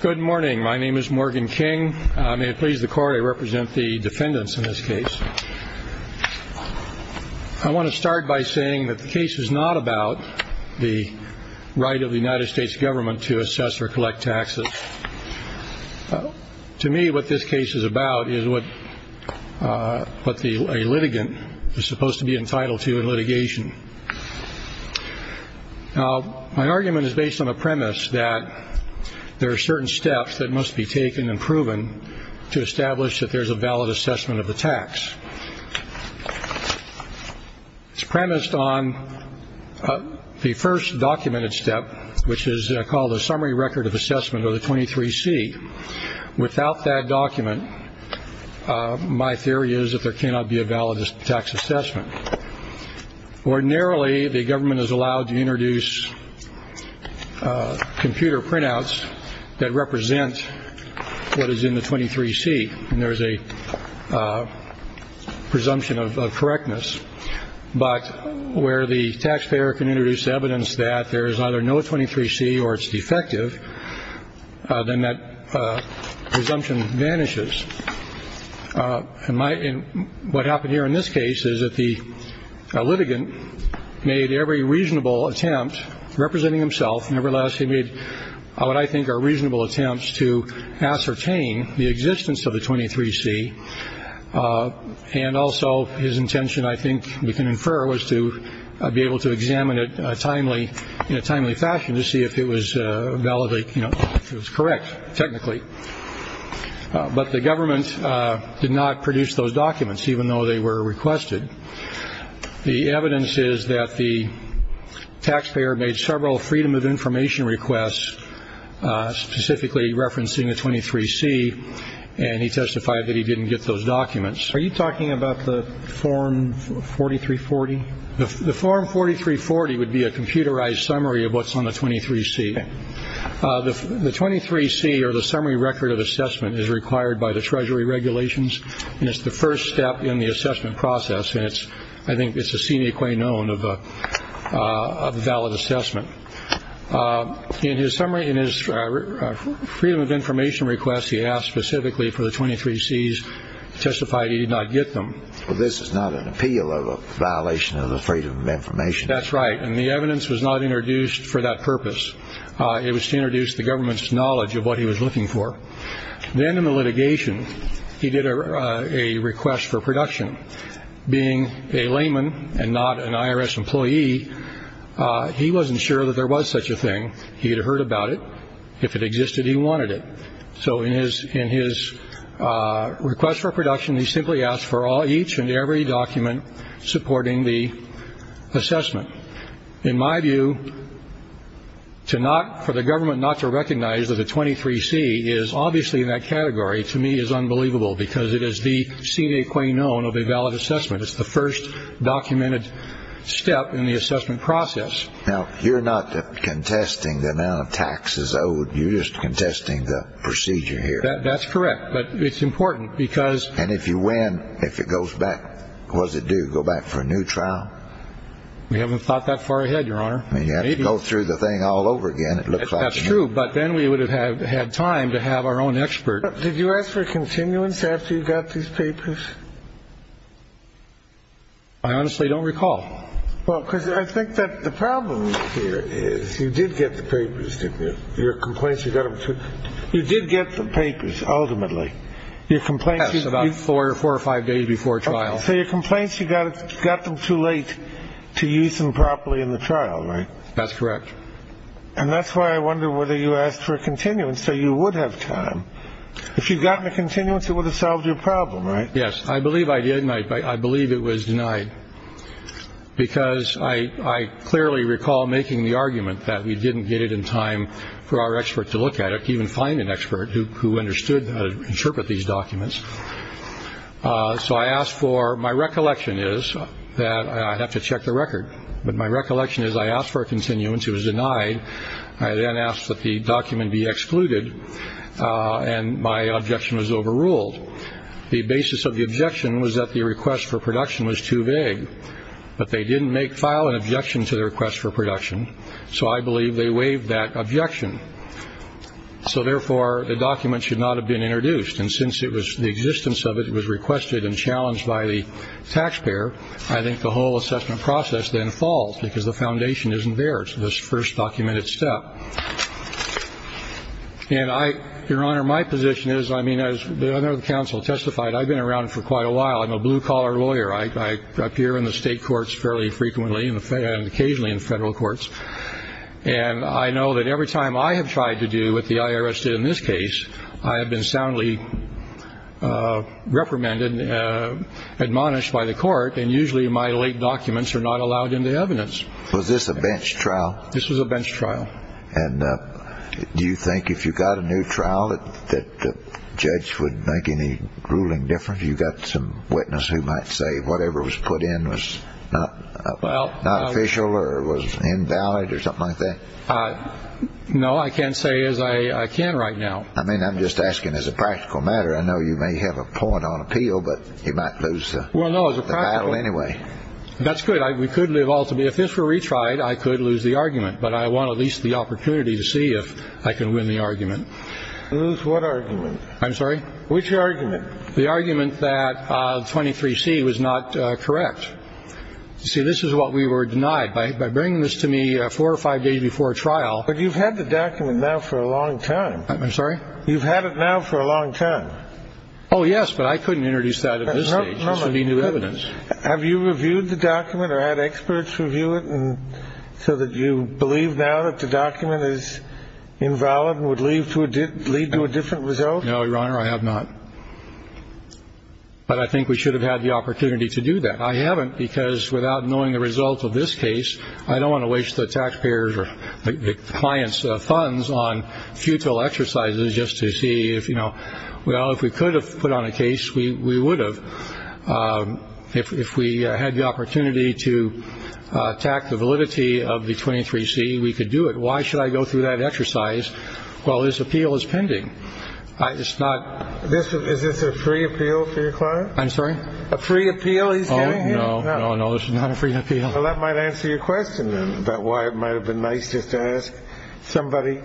Good morning. My name is Morgan King. May it please the court, I represent the defendants in this case. I want to start by saying that the case is not about the right of the United States government to assess or collect taxes. To me, what this case is about is what a litigant is supposed to be entitled to in litigation. Now, my argument is based on a premise that there are certain steps that must be taken and proven to establish that there's a valid assessment of the tax. It's premised on the first documented step, which is called a summary record of assessment, or the 23C. Without that document, my theory is that there cannot be a valid tax assessment. Ordinarily, the government is allowed to introduce computer printouts that represent what is in the 23C. And there is a presumption of correctness. But where the taxpayer can introduce evidence that there is either no 23C or it's defective, then that presumption vanishes. And what happened here in this case is that the litigant made every reasonable attempt, representing himself, nevertheless he made what I think are reasonable attempts to ascertain the existence of the 23C. And also his intention, I think we can infer, was to be able to examine it in a timely fashion to see if it was valid, if it was correct, technically. But the government did not produce those documents, even though they were requested. The evidence is that the taxpayer made several Freedom of Information requests, specifically referencing the 23C, and he testified that he didn't get those documents. Are you talking about the Form 4340? The Form 4340 would be a computerized summary of what's on the 23C. The 23C, or the summary record of assessment, is required by the Treasury regulations, and it's the first step in the assessment process, and I think it's a sine qua non of a valid assessment. In his Freedom of Information request, he asked specifically for the 23Cs, testified he did not get them. Well, this is not an appeal of a violation of the Freedom of Information. That's right, and the evidence was not introduced for that purpose. It was to introduce the government's knowledge of what he was looking for. Then in the litigation, he did a request for production. Being a layman and not an IRS employee, he wasn't sure that there was such a thing. He had heard about it. If it existed, he wanted it. So in his request for production, he simply asked for each and every document supporting the assessment. In my view, for the government not to recognize that the 23C is obviously in that category to me is unbelievable because it is the sine qua non of a valid assessment. It's the first documented step in the assessment process. Now, you're not contesting the amount of taxes owed. You're just contesting the procedure here. That's correct, but it's important because. And if you win, if it goes back, what does it do? Go back for a new trial? We haven't thought that far ahead, Your Honor. I mean, you have to go through the thing all over again, it looks like. That's true, but then we would have had time to have our own expert. Did you ask for continuance after you got these papers? I honestly don't recall. Well, because I think that the problem here is you did get the papers to your complaints. You got them. You did get the papers. Ultimately, your complaints about four or four or five days before trial. So your complaints, you got it, got them too late to use them properly in the trial. Right. That's correct. And that's why I wonder whether you asked for a continuance so you would have time. If you've gotten a continuance, it would have solved your problem. Yes, I believe I did. And I believe it was denied. Because I clearly recall making the argument that we didn't get it in time for our expert to look at it, even find an expert who understood how to interpret these documents. So I asked for my recollection is that I have to check the record. But my recollection is I asked for a continuance. It was denied. I then asked that the document be excluded. And my objection was overruled. The basis of the objection was that the request for production was too vague. But they didn't make file an objection to the request for production. So I believe they waived that objection. So therefore, the document should not have been introduced. And since it was the existence of it was requested and challenged by the taxpayer, I think the whole assessment process then falls because the foundation isn't there. It's this first documented step. And I, Your Honor, my position is, I mean, as the other counsel testified, I've been around for quite a while. I'm a blue collar lawyer. I appear in the state courts fairly frequently and occasionally in federal courts. And I know that every time I have tried to do what the IRS did in this case, I have been soundly reprimanded, admonished by the court. And usually my late documents are not allowed in the evidence. Was this a bench trial? This was a bench trial. And do you think if you got a new trial that the judge would make any ruling difference? You got some witness who might say whatever was put in was not official or was invalid or something like that? No, I can't say as I can right now. I mean, I'm just asking as a practical matter. I know you may have a point on appeal, but you might lose the battle anyway. That's good. We could live. Ultimately, if this were retried, I could lose the argument. But I want at least the opportunity to see if I can win the argument. Lose what argument? I'm sorry. Which argument? The argument that 23 C was not correct. See, this is what we were denied by. By bringing this to me four or five days before trial. But you've had the document now for a long time. I'm sorry. You've had it now for a long time. Oh, yes. But I couldn't introduce that at this stage. New evidence. Have you reviewed the document or had experts review it? And so that you believe now that the document is invalid and would leave to lead to a different result? No, Your Honor, I have not. But I think we should have had the opportunity to do that. I haven't because without knowing the results of this case, I don't want to waste the taxpayers or the client's funds on futile exercises just to see if, you know. Well, if we could have put on a case, we would have. If we had the opportunity to attack the validity of the 23 C, we could do it. Why should I go through that exercise? Well, this appeal is pending. It's not this. Is this a free appeal for your client? I'm sorry. A free appeal. No, no, no, no. This is not a free appeal. That might answer your question about why it might have been nice just to ask somebody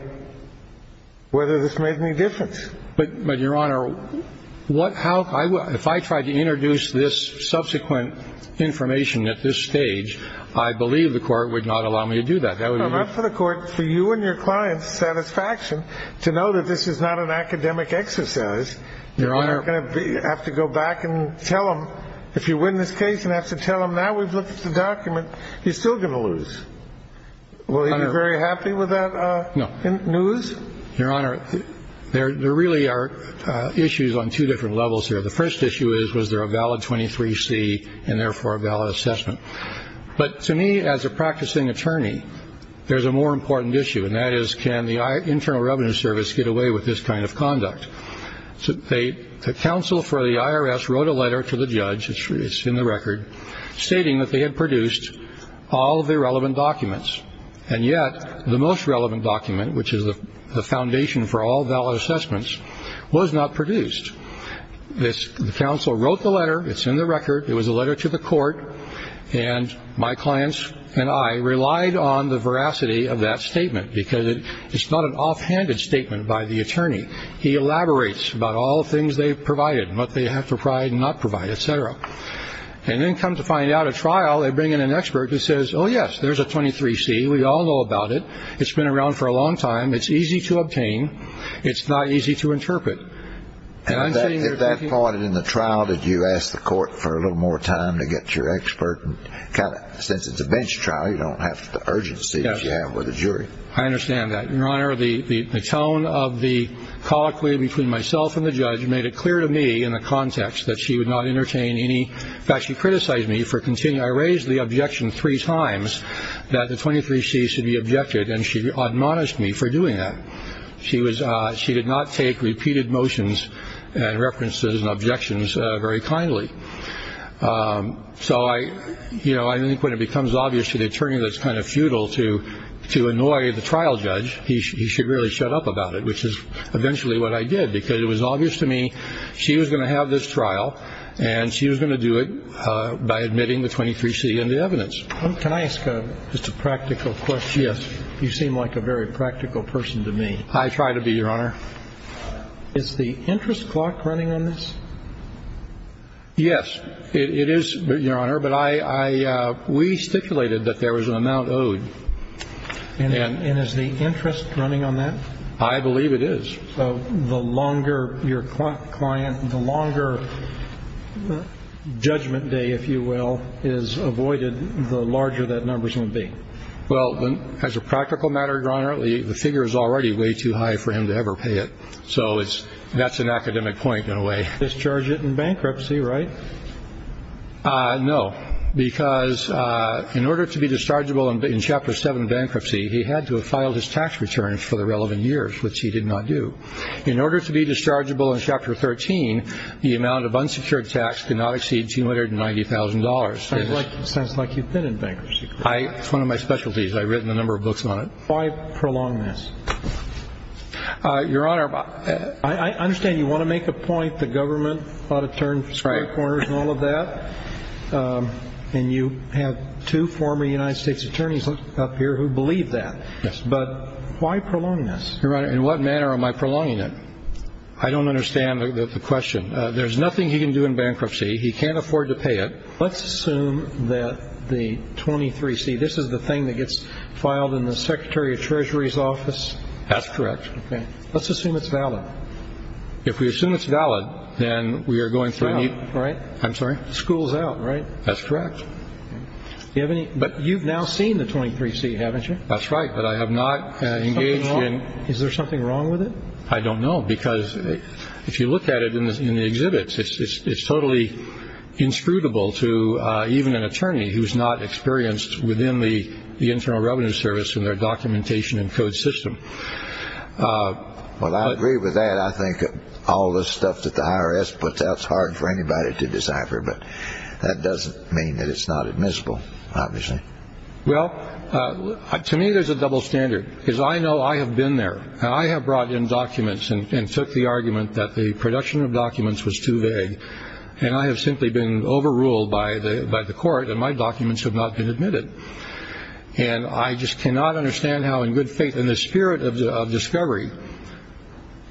whether this made any difference. But but, Your Honor, what, how? If I tried to introduce this subsequent information at this stage, I believe the court would not allow me to do that. I'm up for the court for you and your client's satisfaction to know that this is not an academic exercise. You're going to have to go back and tell him if you win this case and have to tell him now we've looked at the document. He's still going to lose. Will he be very happy with that news? Your Honor, there really are issues on two different levels here. The first issue is, was there a valid 23 C and therefore a valid assessment? But to me, as a practicing attorney, there's a more important issue. And that is, can the Internal Revenue Service get away with this kind of conduct? So the council for the IRS wrote a letter to the judge. It's in the record stating that they had produced all the relevant documents. And yet the most relevant document, which is the foundation for all valid assessments, was not produced. This council wrote the letter. It's in the record. It was a letter to the court. And my clients and I relied on the veracity of that statement, because it is not an offhanded statement by the attorney. He elaborates about all the things they've provided, what they have to provide, not provide, et cetera. And then come to find out at trial, they bring in an expert who says, oh, yes, there's a 23 C. We all know about it. It's been around for a long time. It's easy to obtain. It's not easy to interpret. At that point in the trial, did you ask the court for a little more time to get your expert? Since it's a bench trial, you don't have the urgency as you have with a jury. I understand that, Your Honor. The tone of the colloquy between myself and the judge made it clear to me in the context that she would not entertain any that she criticized me for continuing. I raised the objection three times that the 23 C should be objected. And she admonished me for doing that. She was she did not take repeated motions and references and objections very kindly. So I you know, I think when it becomes obvious to the attorney, that's kind of futile to to annoy the trial judge. He should really shut up about it, which is eventually what I did, because it was obvious to me she was going to have this trial. And she was going to do it by admitting the 23 C in the evidence. Can I ask just a practical question? Yes. You seem like a very practical person to me. I try to be, Your Honor. Is the interest clock running on this? Yes, it is, Your Honor. But I we stipulated that there was an amount owed. And is the interest running on that? I believe it is. The longer your client, the longer judgment day, if you will, is avoided, the larger that numbers will be. Well, as a practical matter, Your Honor, the figure is already way too high for him to ever pay it. So it's that's an academic point in a way. Discharge it in bankruptcy, right? No, because in order to be dischargeable in Chapter seven bankruptcy, he had to have filed his tax returns for the relevant years, which he did not do. In order to be dischargeable in Chapter 13, the amount of unsecured tax did not exceed $290,000. It sounds like you've been in bankruptcy. It's one of my specialties. I've written a number of books on it. Why prolong this? Your Honor, I understand you want to make a point the government ought to turn square corners and all of that. And you have two former United States attorneys up here who believe that. Yes. But why prolong this? Your Honor, in what manner am I prolonging it? I don't understand the question. There's nothing he can do in bankruptcy. He can't afford to pay it. Let's assume that the 23C, this is the thing that gets filed in the Secretary of Treasury's office? That's correct. Okay. Let's assume it's valid. If we assume it's valid, then we are going through a need. Right. I'm sorry? School's out, right? That's correct. But you've now seen the 23C, haven't you? That's right, but I have not engaged in. Is there something wrong with it? I don't know because if you look at it in the exhibits, it's totally inscrutable to even an attorney who's not experienced within the Internal Revenue Service in their documentation and code system. Well, I agree with that. I think all this stuff that the IRS puts out is hard for anybody to decipher, but that doesn't mean that it's not admissible, obviously. Well, to me there's a double standard because I know I have been there. I have brought in documents and took the argument that the production of documents was too vague, and I have simply been overruled by the court and my documents have not been admitted. And I just cannot understand how in good faith in the spirit of discovery.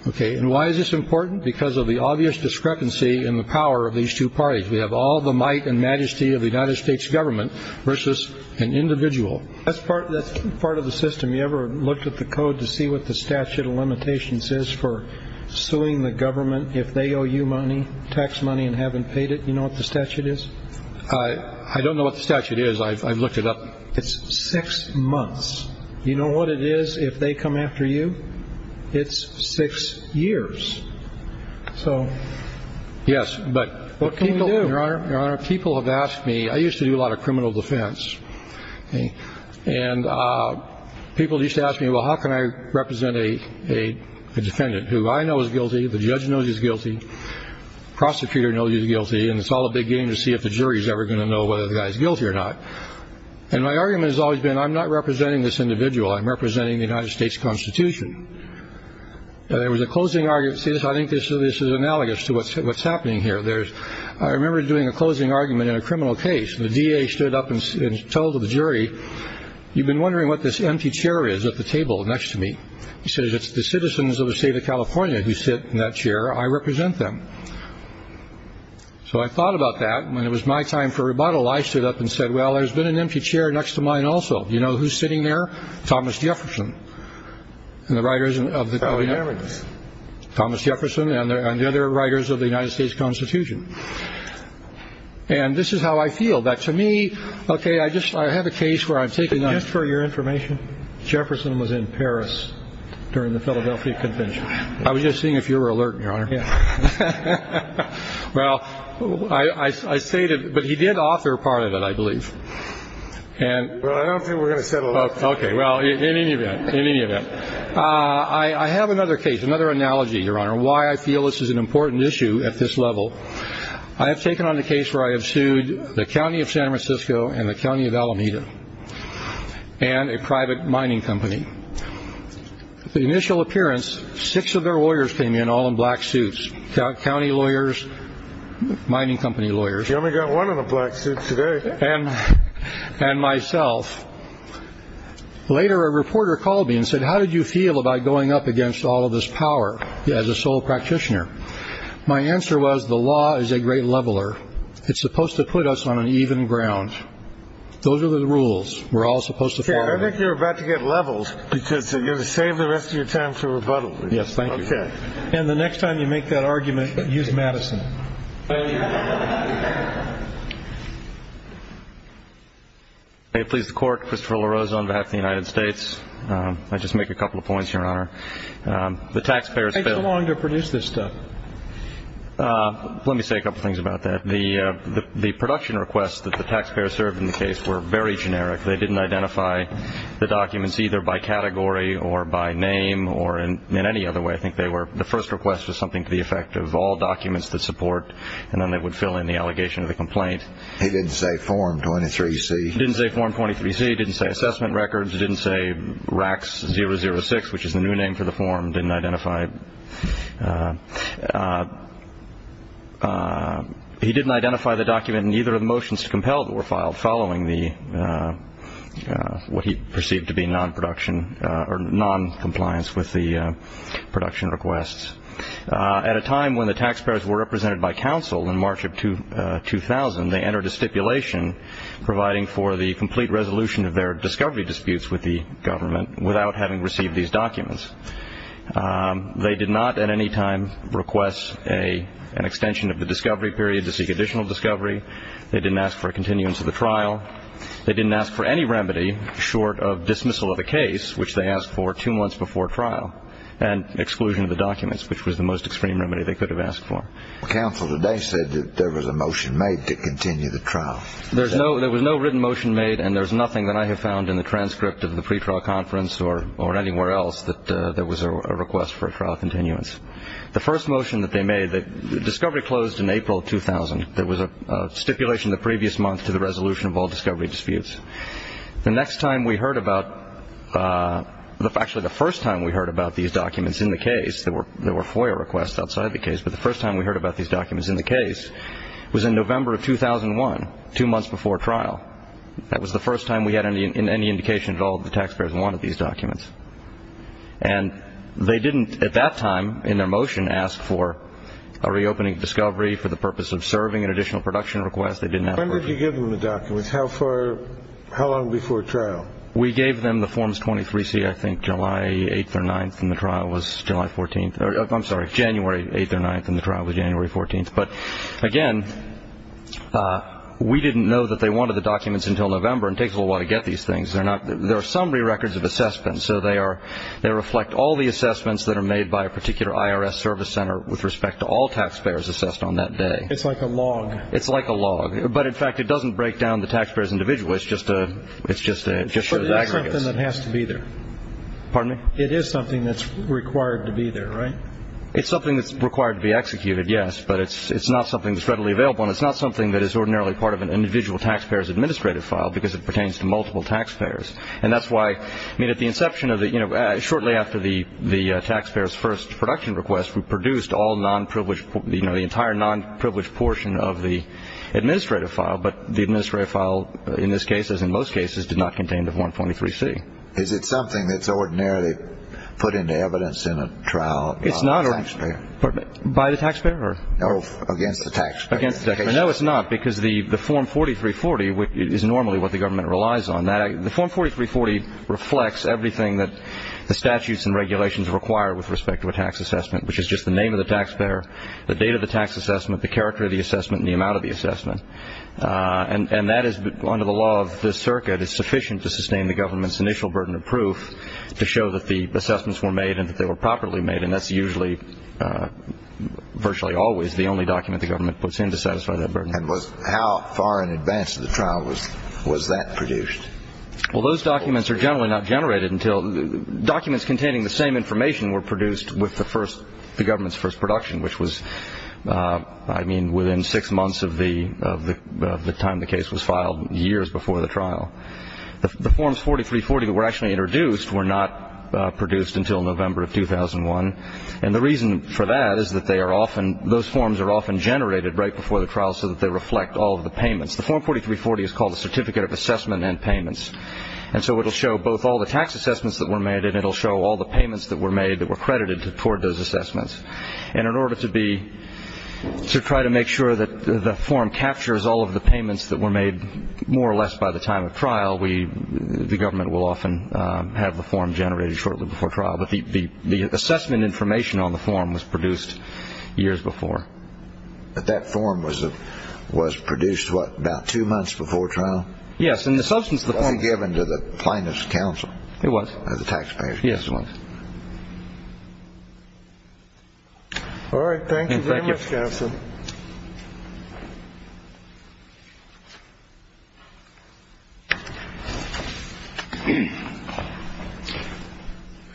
Okay. And why is this important? Because of the obvious discrepancy in the power of these two parties. We have all the might and majesty of the United States government versus an individual. That's part of the system. Have you ever looked at the code to see what the statute of limitations is for suing the government if they owe you money, tax money, and haven't paid it? Do you know what the statute is? I don't know what the statute is. I've looked it up. It's six months. Do you know what it is if they come after you? It's six years. So what can we do? Your Honor, people have asked me. I used to do a lot of criminal defense. And people used to ask me, well, how can I represent a defendant who I know is guilty, the judge knows he's guilty, the prosecutor knows he's guilty, and it's all a big game to see if the jury is ever going to know whether the guy is guilty or not. And my argument has always been I'm not representing this individual. I'm representing the United States Constitution. There was a closing argument. See this? I think this is analogous to what's happening here. I remember doing a closing argument in a criminal case. The DA stood up and told the jury, you've been wondering what this empty chair is at the table next to me. He said, it's the citizens of the state of California who sit in that chair. I represent them. So I thought about that. When it was my time for rebuttal, I stood up and said, well, there's been an empty chair next to mine also. You know who's sitting there? Thomas Jefferson and the writers of the Constitution. Thomas Jefferson and the other writers of the United States Constitution. And this is how I feel, that to me, okay, I have a case where I'm taking up. Just for your information, Jefferson was in Paris during the Philadelphia Convention. I was just seeing if you were alert, Your Honor. Well, I stated, but he did author part of it, I believe. Well, I don't think we're going to settle on that. Okay, well, in any event, in any event, I have another case, another analogy, Your Honor, why I feel this is an important issue at this level. I have taken on the case where I have sued the county of San Francisco and the county of Alameda and a private mining company. The initial appearance, six of their lawyers came in all in black suits, county lawyers, mining company lawyers. You only got one in a black suit today. And myself. Later, a reporter called me and said, how did you feel about going up against all of this power as a sole practitioner? My answer was the law is a great leveler. It's supposed to put us on an even ground. Those are the rules we're all supposed to follow. I think you're about to get leveled because you're going to save the rest of your time for rebuttal. Yes, thank you. Okay. And the next time you make that argument, use Madison. May it please the Court, Christopher LaRosa on behalf of the United States. I just make a couple of points, Your Honor. It takes a long to produce this stuff. Let me say a couple of things about that. The production requests that the taxpayers served in the case were very generic. They didn't identify the documents either by category or by name or in any other way. I think the first request was something to the effect of all documents that support, and then they would fill in the allegation of the complaint. It didn't say Form 23C. It didn't say Form 23C. It didn't say assessment records. It didn't say RACS 006, which is the new name for the form. He didn't identify the document in either of the motions to compel that were filed following what he perceived to be noncompliance with the production requests. At a time when the taxpayers were represented by counsel in March of 2000, they entered a stipulation providing for the complete resolution of their discovery disputes with the government without having received these documents. They did not at any time request an extension of the discovery period to seek additional discovery. They didn't ask for a continuance of the trial. They didn't ask for any remedy short of dismissal of the case, which they asked for two months before trial, and exclusion of the documents, which was the most extreme remedy they could have asked for. Counsel today said that there was a motion made to continue the trial. There was no written motion made, and there's nothing that I have found in the transcript of the pretrial conference or anywhere else that there was a request for a trial continuance. The first motion that they made, the discovery closed in April of 2000. There was a stipulation the previous month to the resolution of all discovery disputes. The next time we heard about, actually the first time we heard about these documents in the case, there were FOIA requests outside the case, but the first time we heard about these documents in the case was in November of 2001, two months before trial. That was the first time we had any indication at all that the taxpayers wanted these documents. And they didn't at that time in their motion ask for a reopening of discovery for the purpose of serving an additional production request. They didn't ask for it. When did you give them the documents? How far, how long before trial? We gave them the forms 23C, I think, July 8th or 9th, and the trial was July 14th. I'm sorry, January 8th or 9th, and the trial was January 14th. But, again, we didn't know that they wanted the documents until November, and it takes a little while to get these things. There are summary records of assessments, so they reflect all the assessments that are made by a particular IRS service center with respect to all taxpayers assessed on that day. It's like a log. It's like a log. But, in fact, it doesn't break down the taxpayers individually. It just shows aggregates. But it is something that has to be there. Pardon me? It is something that's required to be there, right? It's something that's required to be executed, yes, but it's not something that's readily available, and it's not something that is ordinarily part of an individual taxpayer's administrative file because it pertains to multiple taxpayers. And that's why at the inception of the – shortly after the taxpayer's first production request, we produced the entire non-privileged portion of the administrative file, but the administrative file in this case, as in most cases, did not contain the Form 23C. Is it something that's ordinarily put into evidence in a trial by the taxpayer? By the taxpayer? Or against the taxpayer? Against the taxpayer. No, it's not because the Form 4340 is normally what the government relies on. The Form 4340 reflects everything that the statutes and regulations require with respect to a tax assessment, which is just the name of the taxpayer, the date of the tax assessment, the character of the assessment, and the amount of the assessment. And that is, under the law of this circuit, is sufficient to sustain the government's initial burden of proof to show that the assessments were made and that they were properly made, and that's usually virtually always the only document the government puts in to satisfy that burden. And how far in advance of the trial was that produced? Well, those documents are generally not generated until – documents containing the same information were produced with the first – I mean, within six months of the time the case was filed, years before the trial. The Forms 4340 that were actually introduced were not produced until November of 2001, and the reason for that is that they are often – those forms are often generated right before the trial so that they reflect all of the payments. The Form 4340 is called the Certificate of Assessment and Payments, and so it will show both all the tax assessments that were made and it will show all the payments that were made that were credited toward those assessments. And in order to be – to try to make sure that the form captures all of the payments that were made more or less by the time of trial, we – the government will often have the form generated shortly before trial. But the assessment information on the form was produced years before. But that form was produced, what, about two months before trial? Yes, and the substance of the form – It wasn't given to the plaintiff's counsel. It was. The taxpayer's counsel. Yes, it was. All right. Thank you very much, Counsel. Thank you.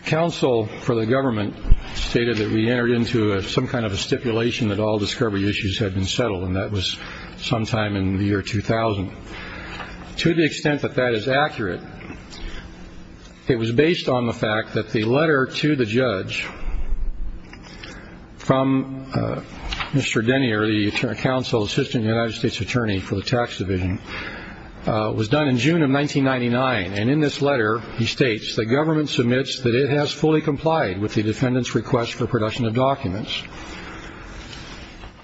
Counsel for the government stated that we entered into some kind of a stipulation that all discovery issues had been settled, and that was sometime in the year 2000. To the extent that that is accurate, it was based on the fact that the letter to the judge from Mr. Denier, the counsel assistant to the United States Attorney for the Tax Division, was done in June of 1999. And in this letter, he states, the government submits that it has fully complied with the defendant's request for production of documents.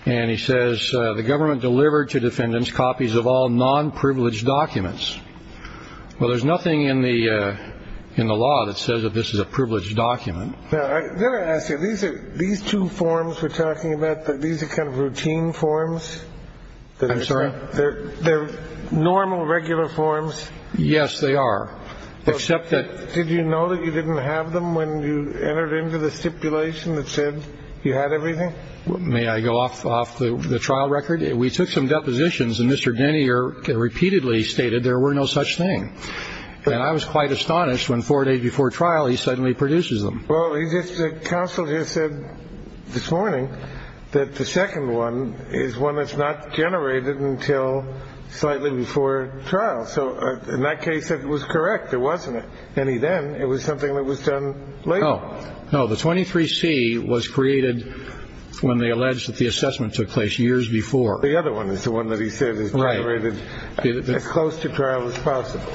And he says, the government delivered to defendants copies of all non-privileged documents. Well, there's nothing in the law that says that this is a privileged document. Now, let me ask you, these two forms we're talking about, these are kind of routine forms? I'm sorry? They're normal, regular forms? Yes, they are, except that – Did you know that you didn't have them when you entered into the stipulation that said you had everything? May I go off the trial record? We took some depositions, and Mr. Denier repeatedly stated there were no such thing. And I was quite astonished when four days before trial, he suddenly produces them. Well, the counsel just said this morning that the second one is one that's not generated until slightly before trial. So in that case, it was correct. It wasn't any then. It was something that was done later. No, no. The 23C was created when they alleged that the assessment took place years before. The other one is the one that he said is generated as close to trial as possible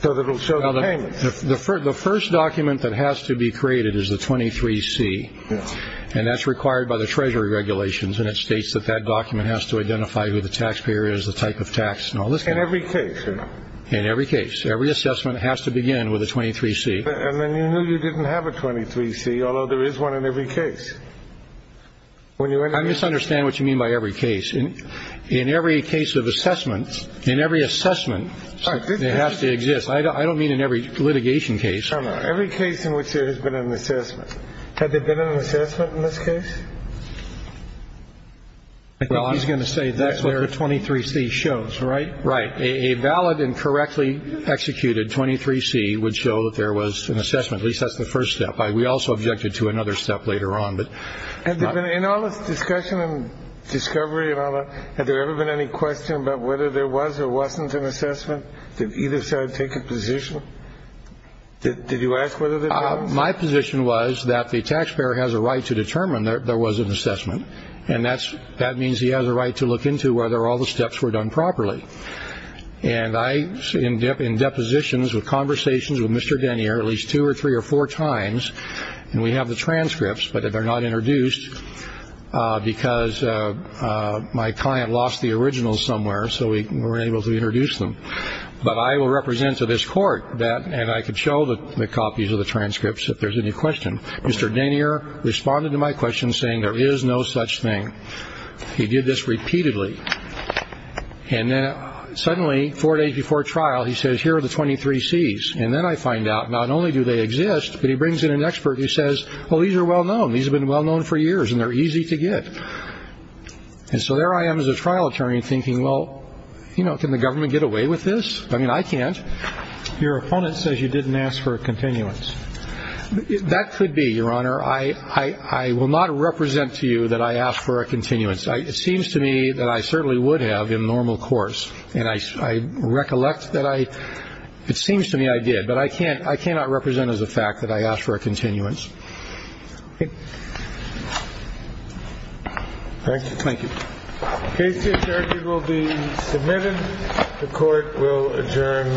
so that it will show the payments. The first document that has to be created is the 23C, and that's required by the Treasury regulations, and it states that that document has to identify who the taxpayer is, the type of tax, and all this kind of stuff. In every case, you know? In every case. Every assessment has to begin with a 23C. And then you knew you didn't have a 23C, although there is one in every case. I misunderstand what you mean by every case. In every case of assessment, in every assessment, it has to exist. I don't mean in every litigation case. Every case in which there has been an assessment. Had there been an assessment in this case? He's going to say that's what the 23C shows, right? Right. A valid and correctly executed 23C would show that there was an assessment. At least that's the first step. We also objected to another step later on. In all this discussion and discovery and all that, had there ever been any question about whether there was or wasn't an assessment? Did either side take a position? Did you ask whether there was? And that means he has a right to look into whether all the steps were done properly. And I, in depositions with conversations with Mr. Denier at least two or three or four times, and we have the transcripts, but they're not introduced because my client lost the originals somewhere, so we weren't able to introduce them. But I will represent to this court that, and I can show the copies of the transcripts if there's any question. Mr. Denier responded to my question saying there is no such thing. He did this repeatedly. And then suddenly, four days before trial, he says, here are the 23Cs. And then I find out not only do they exist, but he brings in an expert who says, well, these are well-known. These have been well-known for years, and they're easy to get. And so there I am as a trial attorney thinking, well, you know, can the government get away with this? I mean, I can't. Your opponent says you didn't ask for a continuance. That could be, Your Honor. I will not represent to you that I asked for a continuance. It seems to me that I certainly would have in normal course. And I recollect that I – it seems to me I did. But I can't – I cannot represent as a fact that I asked for a continuance. Thank you. Thank you. The case to be adjourned will be submitted. The court will adjourn for the session.